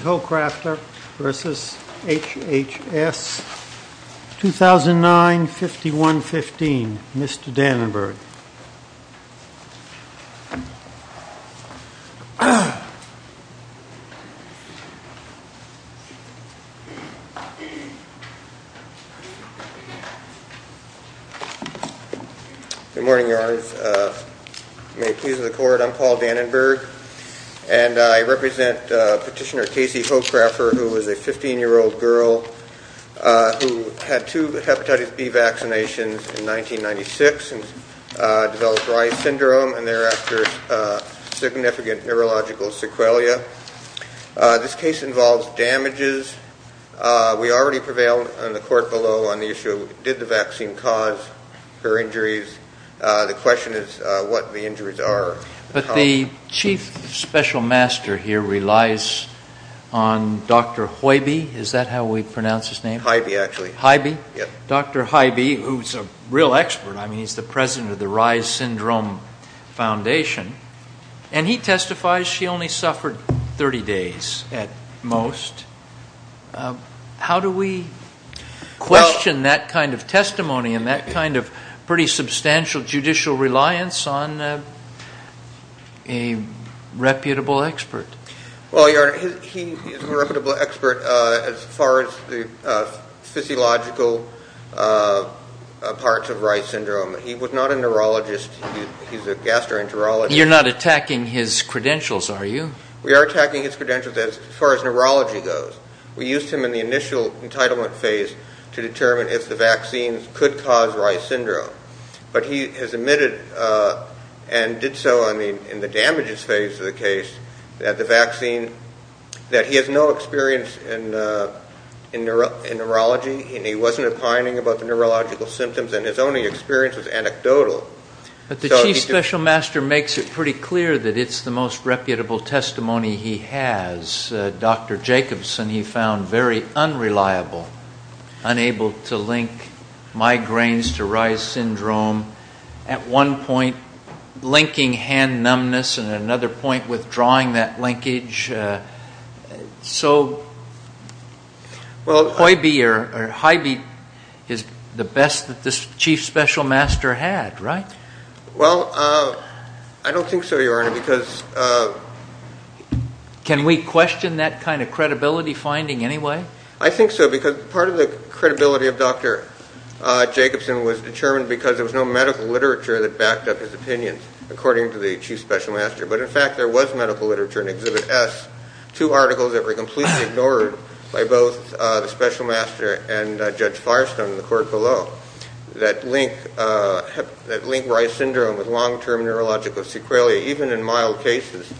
Hocraffer v. HHS, 2009, 5115, Mr. Dannenberg. Good morning, Your Honors. May it please the Court, I'm Paul Dannenberg, and I represent Petitioner Casey Hocraffer, who was a 15-year-old girl who had two hepatitis B vaccinations in syndrome and thereafter significant neurological sequelae. This case involves damages. We already prevailed in the Court below on the issue, did the vaccine cause her injuries? The question is what the injuries are. But the Chief Special Master here relies on Dr. Hoibe, is that how we pronounce his name? Hoibe, actually. Hoibe? Dr. Hoibe, who's a real expert, I mean, he's the president of the Reyes Syndrome Foundation, and he testifies she only suffered 30 days at most. How do we question that kind of testimony and that kind of pretty substantial judicial reliance on a reputable expert? Well, Your Honor, he is a reputable expert as far as the physiological parts of Reyes Syndrome. He was not a neurologist. He's a gastroenterologist. You're not attacking his credentials, are you? We are attacking his credentials as far as neurology goes. We used him in the initial entitlement phase to determine if the vaccine could cause Reyes Syndrome. But he has admitted and did so in the damages phase of the case that the vaccine, that he has no experience in neurology, and he wasn't opining about the neurological symptoms, and his only experience was anecdotal. But the Chief Special Master makes it pretty clear that it's the most reputable testimony he has. Dr. Jacobson, he found very unreliable, unable to link migraines to Reyes Syndrome. At one point, linking hand numbness, and at another point, withdrawing that linkage. So well, Hybee is the best that this Chief Special Master had, right? Well, I don't think so, Your Honor, because... Can we question that kind of credibility finding anyway? I think so, because part of the credibility of Dr. Jacobson was determined because there was no medical literature that backed up his opinion, according to the Chief Special Master. But in fact, there was medical literature in Exhibit S, two articles that were completely ignored by both the Special Master and Judge Firestone in the court below, that link Reyes Syndrome with long-term neurological sequelae, even in mild cases,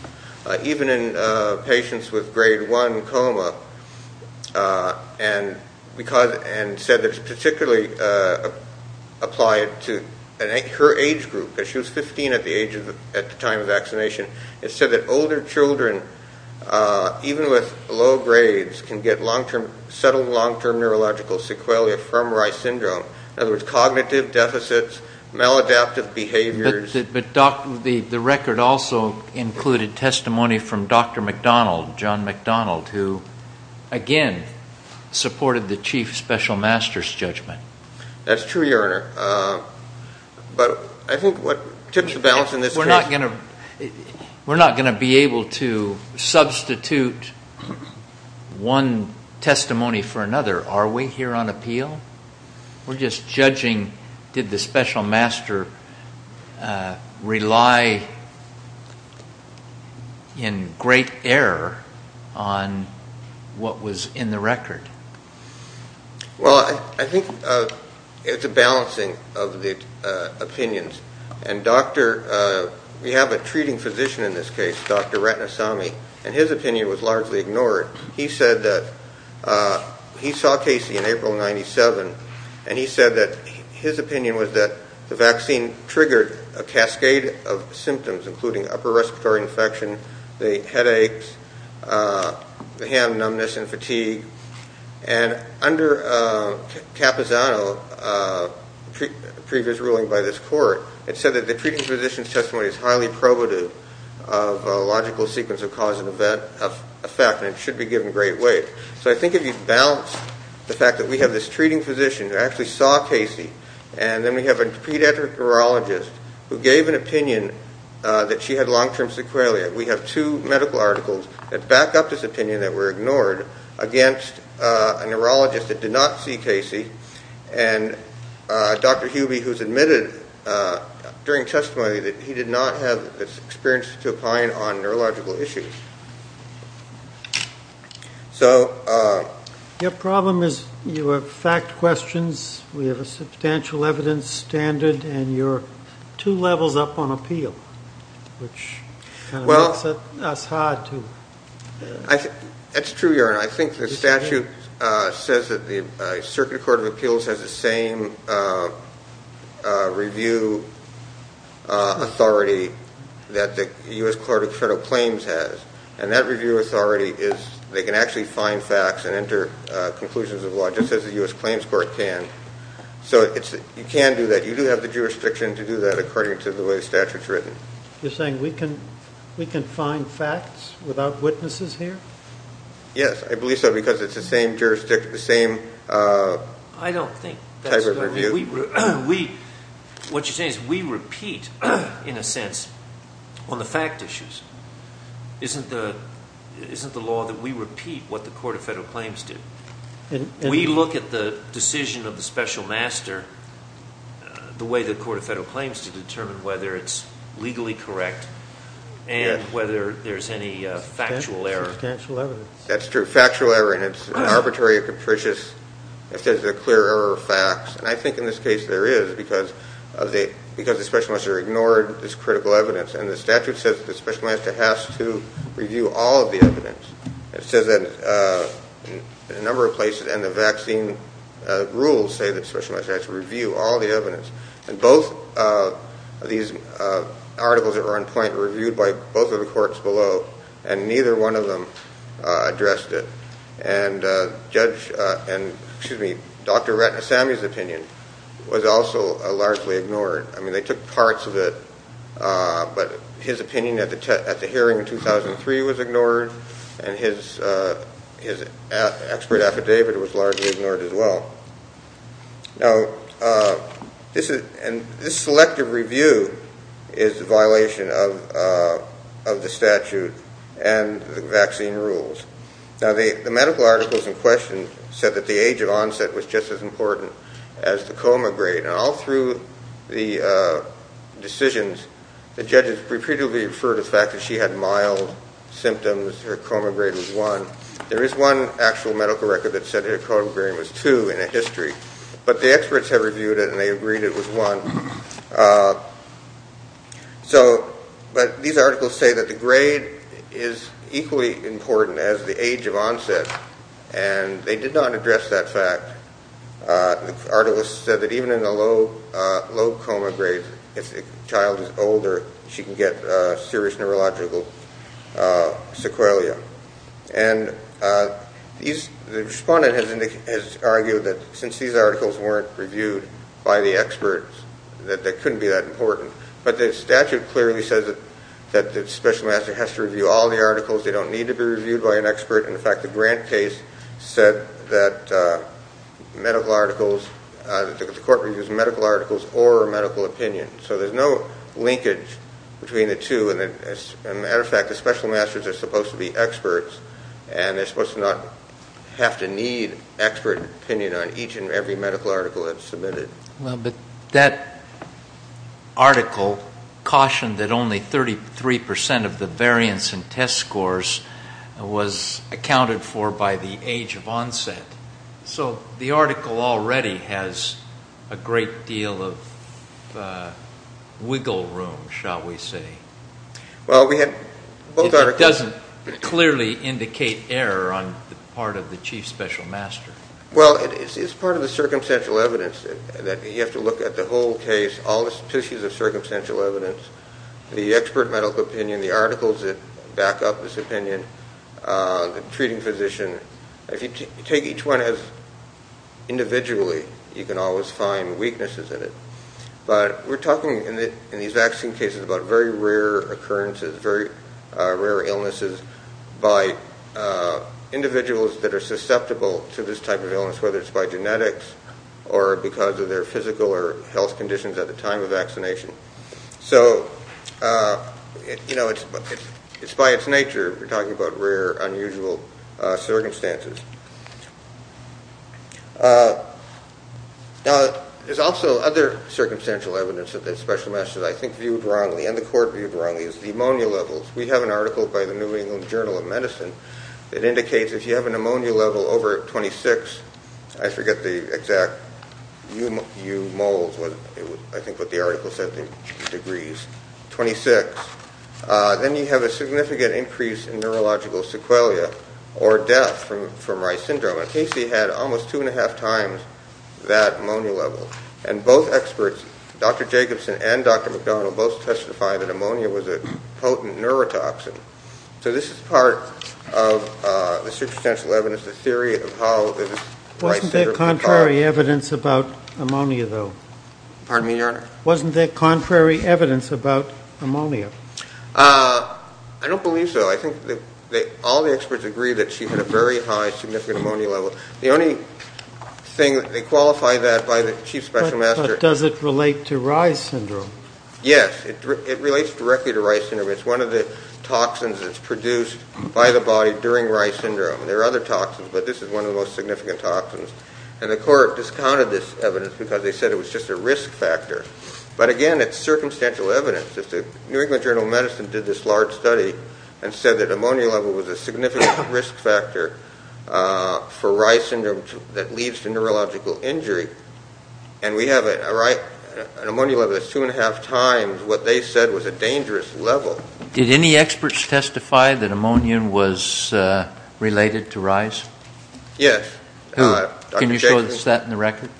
even in patients with grade 1 coma, and said that it's particularly applied to her age group, because she was 15 at the time of vaccination. It said that older children, even with low grades, can get settled long-term neurological sequelae from Reyes Syndrome. In other words, cognitive deficits, maladaptive behaviors... But the record also included testimony from Dr. McDonald, John McDonald, who, again, supported the Chief Special Master's judgment. That's true, Your Honor. But I think what tips the balance in this case... We're not going to be able to substitute one testimony for another. Are we here on appeal? We're just judging, did the Special Master rely in great error on what was in the record? Well, I think it's a balancing of the opinions. And we have a treating physician in this case, Dr. Ratnasamy, and his opinion was largely ignored. He said that... He saw Casey in April 97, and he said that his opinion was that the vaccine triggered a cascade of symptoms, including upper respiratory infection, headaches, hand numbness and fatigue. And under Capazano's previous ruling by this court, it said that the treating physician's testimony is highly probative of a logical sequence of cause and effect, and it should be given great weight. So I think if you balance the fact that we have this treating physician who actually saw Casey, and then we have a pediatric neurologist who gave an opinion that she had long-term sequelae, we have two medical articles that back up this opinion that were ignored against a neurologist that did not see Casey, and Dr. Hubie who's admitted during testimony that he did not have experience to opine on neurological issues. So... Your problem is you have fact questions, we have a substantial evidence standard, and you're two levels up on appeal, which kind of makes us hard to... It's true, Your Honor. I think the statute says that the Circuit Court of Appeals has the same review authority that the U.S. Court of Federal Claims has, and that review authority is... They can actually find facts and enter conclusions of law just as the U.S. Claims Court can. So you can do that. You do have the jurisdiction to do that according to the way the statute's written. You're saying we can find facts without witnesses here? Yes, I believe so, because it's the same jurisdiction, the same type of review. I don't think that's... What you're saying is we repeat, in a sense, on the fact issues. Isn't the law that we repeat what the Court of Federal claims to determine whether it's legally correct and whether there's any factual error? Substantial evidence. That's true. Factual error, and it's arbitrary or capricious. It says there are clear error of facts, and I think in this case there is, because the Special Investigator ignored this critical evidence. And the statute says that the Special Investigator has to review all of the evidence. It says that in a number of places, and the vaccine rules say that Special Investigator has to review all of the evidence. And both of these articles that were on point were reviewed by both of the courts below, and neither one of them addressed it. And Judge, and excuse me, Dr. Ratnasamy's opinion was also largely ignored. I mean, they took parts of it, but his opinion at the hearing in 2003 was ignored, and his expert affidavit was largely ignored as well. Now, this selective review is a violation of the statute and the vaccine rules. Now, the medical articles in question said that the age of onset was just as important as the coma grade. And all through the decisions, the judges repeatedly referred to the fact that she had mild symptoms, her coma grade was one. There is one actual medical record that said her coma grade was two in history. But the experts have reviewed it, and they agreed it was one. So, but these articles say that the grade is equally important as the age of onset, and they did not address that fact. The article said that even in a low coma grade, if the child is older, she can get serious neurological sequelae. And these, the respondent has argued that since these articles weren't reviewed by the experts, that they couldn't be that important. But the statute clearly says that the special master has to review all the articles. They don't need to be reviewed by an expert. In fact, the Grant case said that medical articles, that the court reviews medical articles or medical opinion. So there's no linkage between the two. And as a matter of fact, the special masters are supposed to be experts, and they're supposed to not have to need expert opinion on each and every medical article that's submitted. Well, but that article cautioned that only 33% of the variance in test scores was accounted for by the age of onset. So the article already has a great deal of wiggle room, shall we say. Well, we had both articles. It doesn't clearly indicate error on the part of the chief special master. Well, it's part of the circumstantial evidence that you have to look at the whole case, all the tissues of circumstantial evidence, the expert medical opinion, the articles that back up this If you take each one as individually, you can always find weaknesses in it. But we're talking in these vaccine cases about very rare occurrences, very rare illnesses by individuals that are susceptible to this type of illness, whether it's by genetics, or because of their physical or health conditions at the time of vaccination. So, you know, it's by its nature, we're talking about very rare, unusual circumstances. There's also other circumstantial evidence that the special masters, I think, viewed wrongly, and the court viewed wrongly, is the ammonia levels. We have an article by the New England Journal of Medicine that indicates if you have an ammonia level over 26, I forget the exact U moles, I think that's what the article said, the degrees, 26, then you have a significant increase in neurological sequelae or death from Reye's syndrome. And Casey had almost two and a half times that ammonia level. And both experts, Dr. Jacobson and Dr. McDonald, both testified that ammonia was a potent neurotoxin. So this is part of the circumstantial evidence, the theory of how Reye's syndrome was developed. Wasn't there contrary evidence about ammonia, though? Pardon me, your honor? Wasn't there contrary evidence about ammonia? I don't believe so. I think all the experts agree that she had a very high significant ammonia level. The only thing, they qualify that by the chief special master. But does it relate to Reye's syndrome? Yes, it relates directly to Reye's syndrome. It's one of the toxins that's produced by the body during Reye's syndrome. There are other toxins, but this is one of the most significant toxins. And the court discounted this evidence because they said it was just a risk factor. But again, it's circumstantial evidence. The New England Journal of Medicine did this large study and said that ammonia level was a significant risk factor for Reye's syndrome that leads to neurological injury. And we have an ammonia level that's two and a half times what they said was a dangerous level. Did any experts testify that ammonia was related to Reye's? Yes. Can you show us that in the record?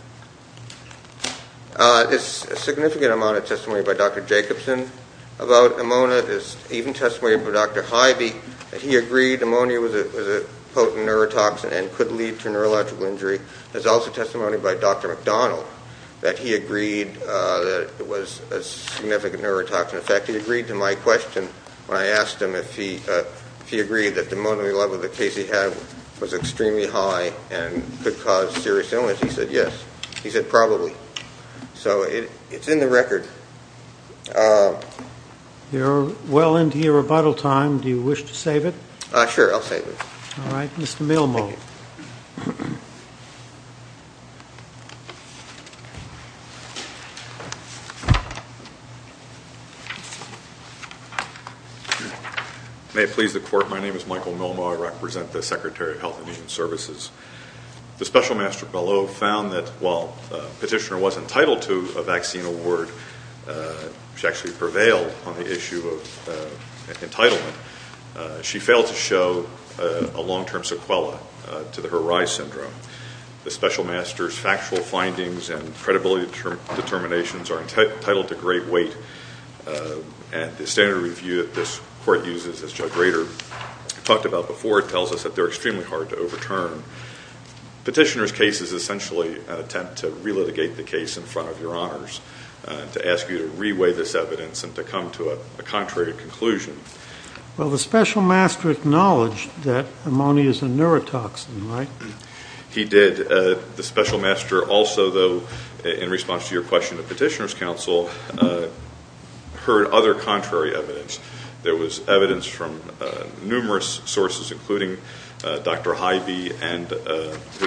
There's a significant amount of testimony by Dr. Jacobson about ammonia. There's even testimony by Dr. Hybee that he agreed ammonia was a potent neurotoxin and could lead to neurological injury. There's also testimony by Dr. McDonald that he agreed that it was a significant neurotoxin effect. He agreed to my question when I asked him if he agreed that the ammonia level that Casey had was extremely high and could cause serious illness. He said yes. He said probably. So it's in the record. You're well into your rebuttal time. Do you wish to save it? Sure, I'll save it. All right, Mr. Milmo. Thank you. May it please the court, my name is Michael Milmo. I represent the Secretary of Health and Human Services. The special master fellow found that while the petitioner was entitled to a vaccine award, she actually prevailed on the issue of entitlement. She failed to show a long-term sequela to her Reye's syndrome. The special master's factual findings and determinations are entitled to great weight. And the standard review that this court uses, as Judge Rader talked about before, tells us that they're extremely hard to overturn. Petitioner's case is essentially an attempt to relitigate the case in front of your honors, to ask you to reweigh this evidence and to come to a contrary conclusion. Well, the special master acknowledged that ammonia is a neurotoxin, right? He did. The special master also, though, in response to your question to petitioner's counsel, heard other contrary evidence. There was evidence from numerous sources, including Dr. Hybee,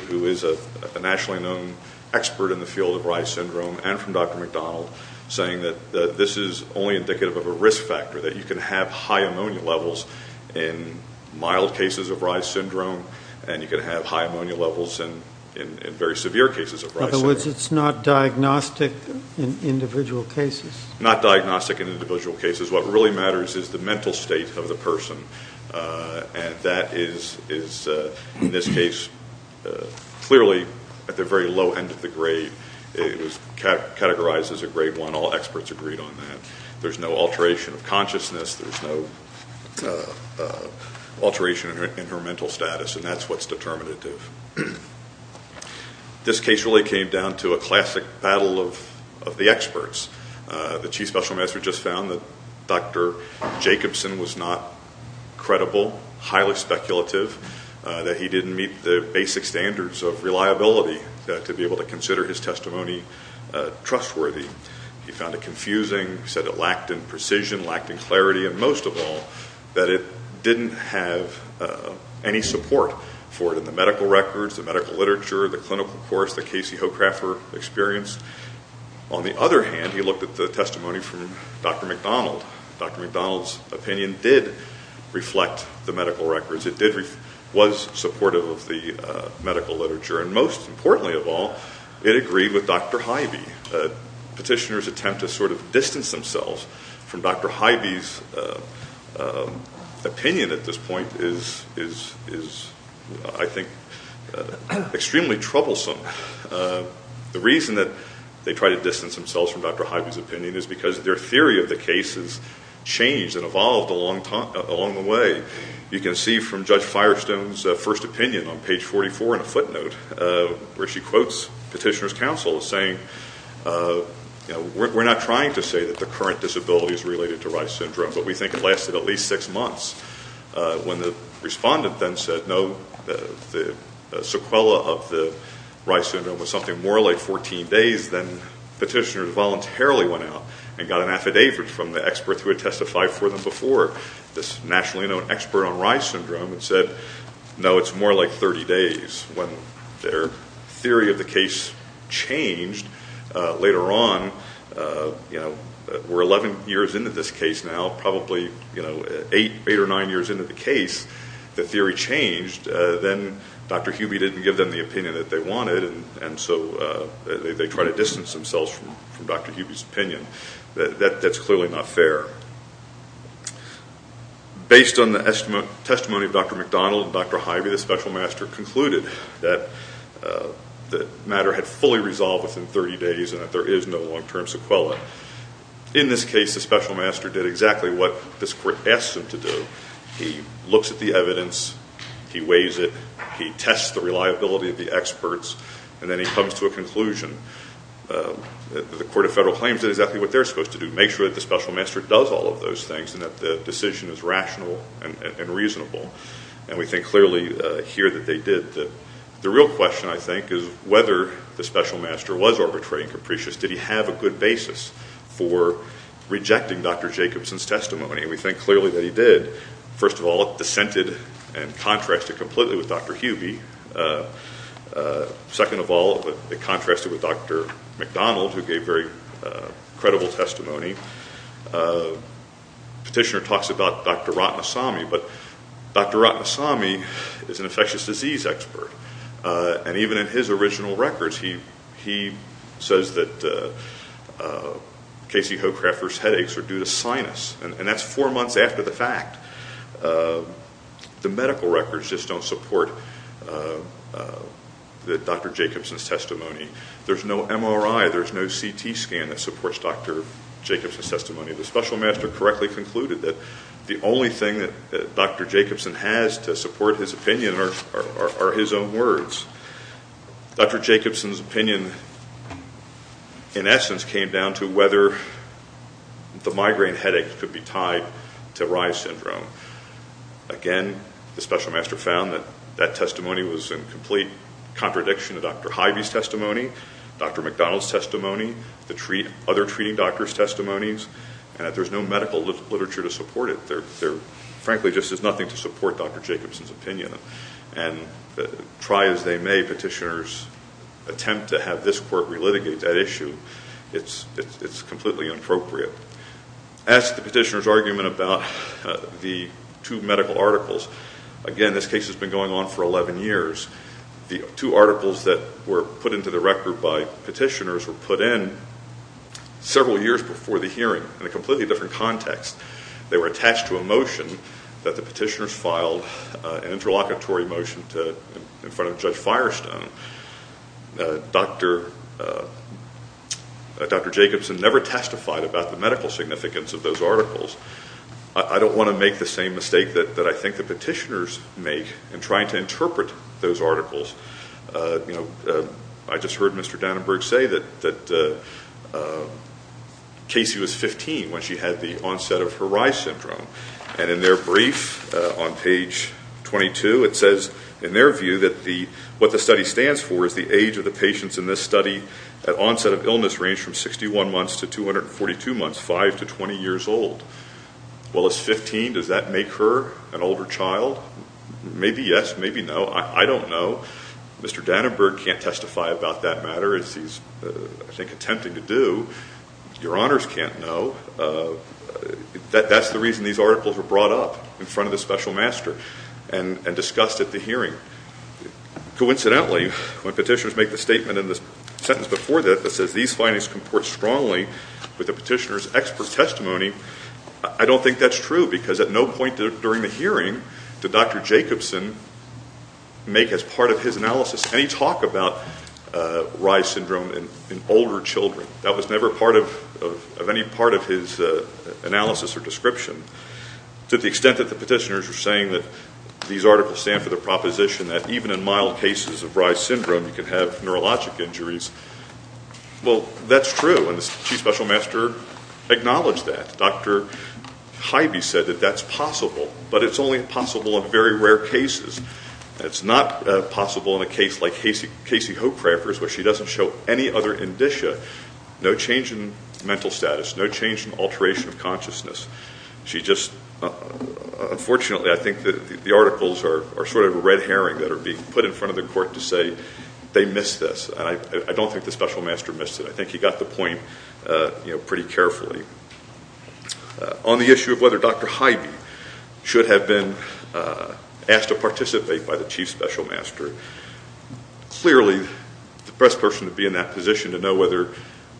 who is a nationally known expert in the field of Reye's syndrome, and from Dr. McDonald, saying that this is only indicative of a risk factor, that you can have high ammonia levels in mild cases of Reye's syndrome, and you can have high ammonia levels in very severe cases. In other words, it's not diagnostic in individual cases? Not diagnostic in individual cases. What really matters is the mental state of the person. And that is, in this case, clearly at the very low end of the grade, it was categorized as a grade one. All experts agreed on that. There's no alteration of consciousness. Alteration in her mental status, and that's what's determinative. This case really came down to a classic battle of the experts. The chief special master just found that Dr. Jacobson was not credible, highly speculative, that he didn't meet the basic standards of reliability to be able to consider his testimony trustworthy. He found it confusing, said it lacked in precision, lacked in clarity, and most of all, that it didn't have any support for it in the medical records, the medical literature, the clinical course that Casey Hochrafer experienced. On the other hand, he looked at the testimony from Dr. McDonald. Dr. McDonald's opinion did reflect the medical records. It was supportive of the medical literature. And most importantly of all, it agreed with Dr. Hybee. Petitioners attempt to sort of distance themselves from Dr. Hybee's opinion at this point is, I think, extremely troublesome. The reason that they try to distance themselves from Dr. Hybee's opinion is because their theory of the case has changed and evolved along the way. You can see from Judge Firestone's first note where she quotes petitioner's counsel as saying, you know, we're not trying to say that the current disability is related to Reye's syndrome, but we think it lasted at least six months. When the respondent then said, no, the sequela of the Reye's syndrome was something more like 14 days, then petitioners voluntarily went out and got an affidavit from the expert who had testified for them before, this nationally known expert on Reye's syndrome, and said, no, it's more like 30 days. When their theory of the case changed later on, you know, we're 11 years into this case now, probably, you know, eight or nine years into the case, the theory changed, then Dr. Hybee didn't give them the opinion that they wanted, and so they try to distance themselves from Dr. Hybee's opinion. That's clearly not fair. Based on the testimony of Dr. McDonald and Dr. Hybee, the special master concluded that the matter had fully resolved within 30 days and that there is no long-term sequela. In this case, the special master did exactly what this court asked him to do. He looks at the evidence, he weighs it, he tests the reliability of the experts, and then he comes to a conclusion. The Court of Federal Claims did exactly what they're supposed to do, make sure that the special master does all of those things and that the decision is rational and reasonable, and we think clearly here that they did. The real question, I think, is whether the special master was arbitrary and capricious. Did he have a good basis for rejecting Dr. Jacobson's testimony, and we think clearly that he did. First of all, it dissented and contrasted completely with Dr. Hybee. Second of all, it contrasted with Dr. McDonald, who gave very credible testimony. Petitioner talks about Dr. Ratnasamy, but Dr. Ratnasamy is an infectious disease expert, and even in his original records, he says that Casey Hochrafter's headaches are due to sinus, and that's four months after the fact. The medical records just don't support Dr. Jacobson's testimony. There's no MRI, there's no CT scan that supports Dr. Jacobson's testimony. The special master correctly concluded that the only thing that Dr. Jacobson has to support his opinion are his own words. Dr. Jacobson's opinion, in essence, came down to whether the migraine headache could be tied to Reye's syndrome. Again, the special master found that testimony was in complete contradiction to Dr. Hybee's testimony, Dr. McDonald's testimony, the other treating doctors' testimonies, and that there's no medical literature to support it. Frankly, there's just nothing to support Dr. Jacobson's opinion, and try as they may, petitioners attempt to have this court relitigate that issue. It's completely inappropriate. As to the petitioner's argument about the two medical articles, again, this case has been going on for 11 years. The two articles that were put into the record by petitioners were put in several years before the hearing in a completely different context. They were attached to a motion that the petitioners filed, an interlocutory motion in front of Judge Firestone. Dr. Jacobson never testified about the medical significance of those articles. I don't want to make the same mistake that I think the petitioners make in trying to interpret those articles. I just heard Mr. Dannenberg say that Casey was 15 when she had the onset of her Reye's syndrome. In their brief on page 22, it says, in their view, that what the study stands for is the age of the patients in this study at onset of illness range from 61 months to 242 months, 5 to 20 years old. Well, is 15, does that make her an older child? Maybe yes, maybe no. I don't know. Mr. Dannenberg can't testify about that matter as he's, I think, attempting to do. Your honors can't know. That's the reason these articles were brought up in front of the special master and discussed at the hearing. Coincidentally, when petitioners make the statement in the expert testimony, I don't think that's true, because at no point during the hearing did Dr. Jacobson make as part of his analysis any talk about Reye's syndrome in older children. That was never part of any part of his analysis or description. To the extent that the petitioners are saying that these articles stand for the proposition that even in mild cases of Reye's Dr. Hybie said that that's possible, but it's only possible in very rare cases. It's not possible in a case like Casey Hochreifers, where she doesn't show any other indicia, no change in mental status, no change in alteration of consciousness. Unfortunately, I think that the articles are sort of a red herring that are being put in front of the court to say they missed this, and I don't think the special master missed it. I think he got the point pretty carefully. On the issue of whether Dr. Hybie should have been asked to participate by the chief special master, clearly the best person to be in that position to know whether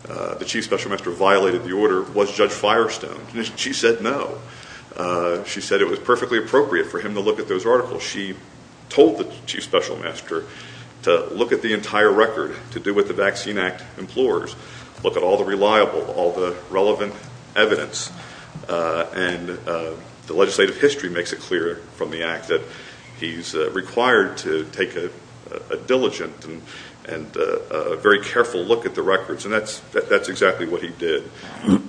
the chief special master violated the order was Judge Firestone. She said no. She said it was perfectly appropriate for him to look at those articles. She told the chief special master to look at the entire record, to do what the Vaccine Act implores, look at all the reliable, all the relevant evidence, and the legislative history makes it clear from the act that he's required to take a diligent and a very careful look at the records, and that's exactly what he did.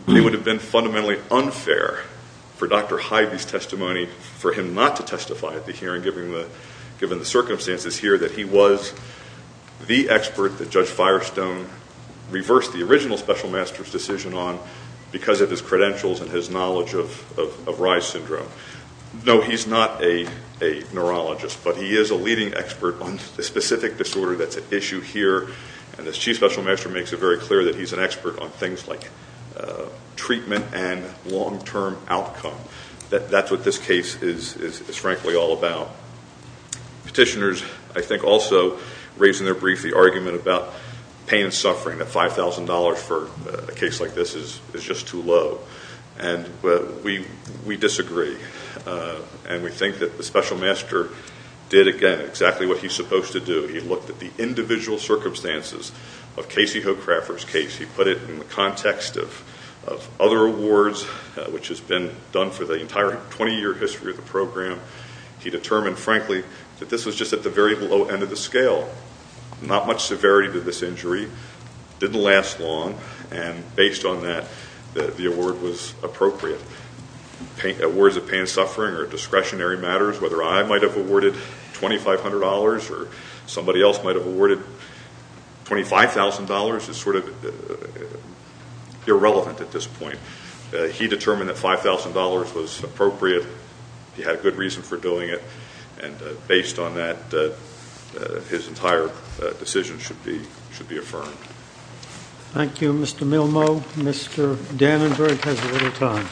It would have been fundamentally unfair for Dr. Hybie's given the circumstances here that he was the expert that Judge Firestone reversed the original special master's decision on because of his credentials and his knowledge of Reye's syndrome. No, he's not a neurologist, but he is a leading expert on the specific disorder that's at issue here, and the chief special master makes it very clear that he's an expert on things like petitioners. I think also, raising their brief, the argument about pain and suffering at $5,000 for a case like this is just too low, and we disagree, and we think that the special master did, again, exactly what he's supposed to do. He looked at the individual circumstances of Casey Hocrafter's case. He put it in the context of other awards, which has been done for the entire 20-year history of the program. He determined, frankly, that this was just at the very low end of the scale, not much severity to this injury, didn't last long, and based on that, the award was appropriate. Awards of pain and suffering or discretionary matters, whether I might have awarded $2,500 or somebody else might have awarded $25,000 is sort of irrelevant at this point. He determined that $5,000 was appropriate. He had a good reason for doing it, and based on that, his entire decision should be affirmed. Thank you, Mr. Milmo. Mr. Danenberg has a little time.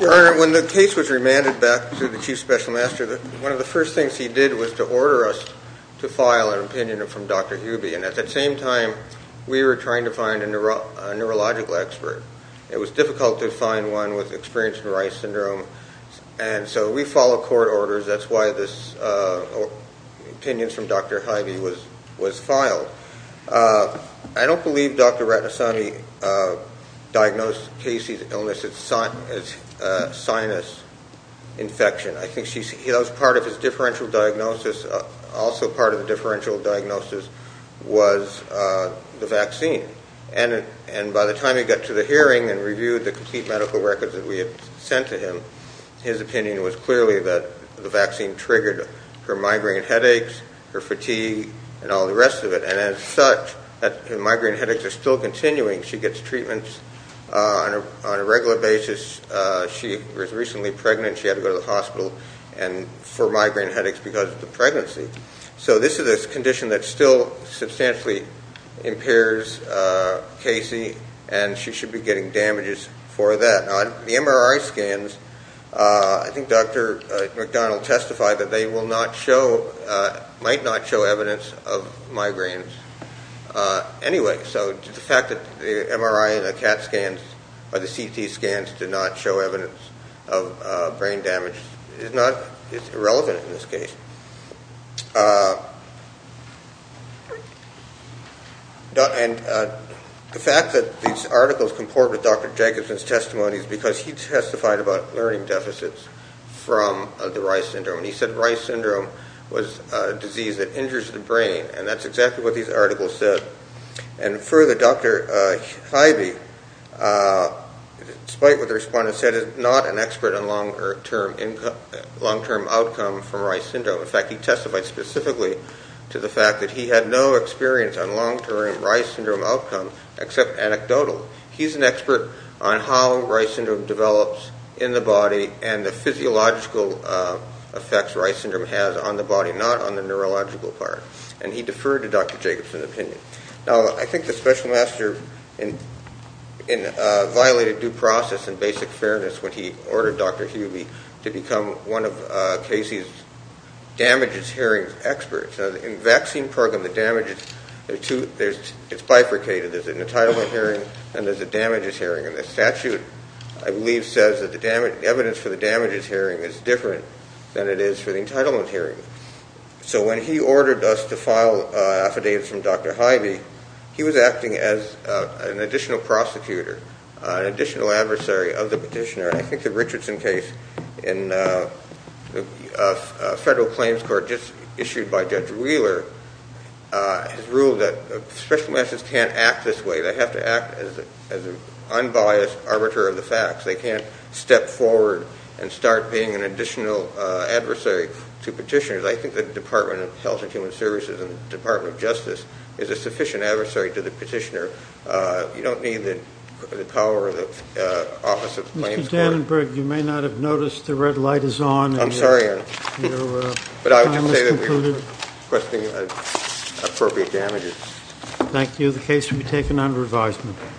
Your Honor, when the case was remanded back to the chief special master, one of the first things he did was to order us to file an opinion from Dr. Hubie, and at that same time, we were trying to find a neurological expert. It was difficult to find one with experience with Reye's syndrome, and so we followed court orders. That's why this opinion from Dr. Hyvie was filed. I don't believe Dr. Ratnasamy diagnosed Casey's illness as sinus infection. I think that was part of his differential diagnosis. Also part of the differential diagnosis was the vaccine, and by the time he got to the hearing and reviewed the complete medical records that we had sent to him, his opinion was clearly that the vaccine triggered her migraine headaches, her fatigue, and all the rest of it, and as such, her migraine headaches are still continuing. She was recently pregnant. She had to go to the hospital for migraine headaches because of the pregnancy, so this is a condition that still substantially impairs Casey, and she should be getting damages for that. The MRI scans, I think Dr. McDonald testified that they might not show evidence of migraines anyway, so the fact that the MRI and the CT scans did not show evidence of brain damage is irrelevant in this case. And the fact that these articles comport with Dr. Jacobson's testimony is because he testified about learning deficits from the Reye's syndrome, and he said Reye's syndrome was a disease that injures the brain, and that's exactly what these articles said, and further, Dr. Hyvie, despite what the respondents said, is not an expert on long-term outcome from Reye's syndrome. In fact, he testified specifically to the fact that he had no experience on long-term Reye's syndrome outcome except anecdotally. He's an expert on how Reye's syndrome develops in the body and the physiological effects Reye's syndrome has on the body, not on the neurological part, and he deferred to Dr. Jacobson's opinion. Now, I think the special master violated due process and basic fairness when he ordered Dr. Hyvie to become one of Casey's damages hearings experts. In the vaccine program, the damages, it's bifurcated. There's an entitlement hearing, and there's a damages hearing, and the statute, I believe, says that the evidence for the damages to file affidavits from Dr. Hyvie, he was acting as an additional prosecutor, an additional adversary of the petitioner, and I think the Richardson case in the federal claims court just issued by Judge Wheeler has ruled that special masters can't act this way. They have to act as an unbiased arbiter of the facts. They can't step forward and start being an additional adversary to petitioners. I think the Department of Health and Human Services and the Department of Justice is a sufficient adversary to the petitioner. You don't need the power of the Office of Claims Court. Mr. Dannenberg, you may not have noticed the red light is on. I'm sorry, but I would just say that we're requesting appropriate damages. Thank you. The case will be taken under advisement.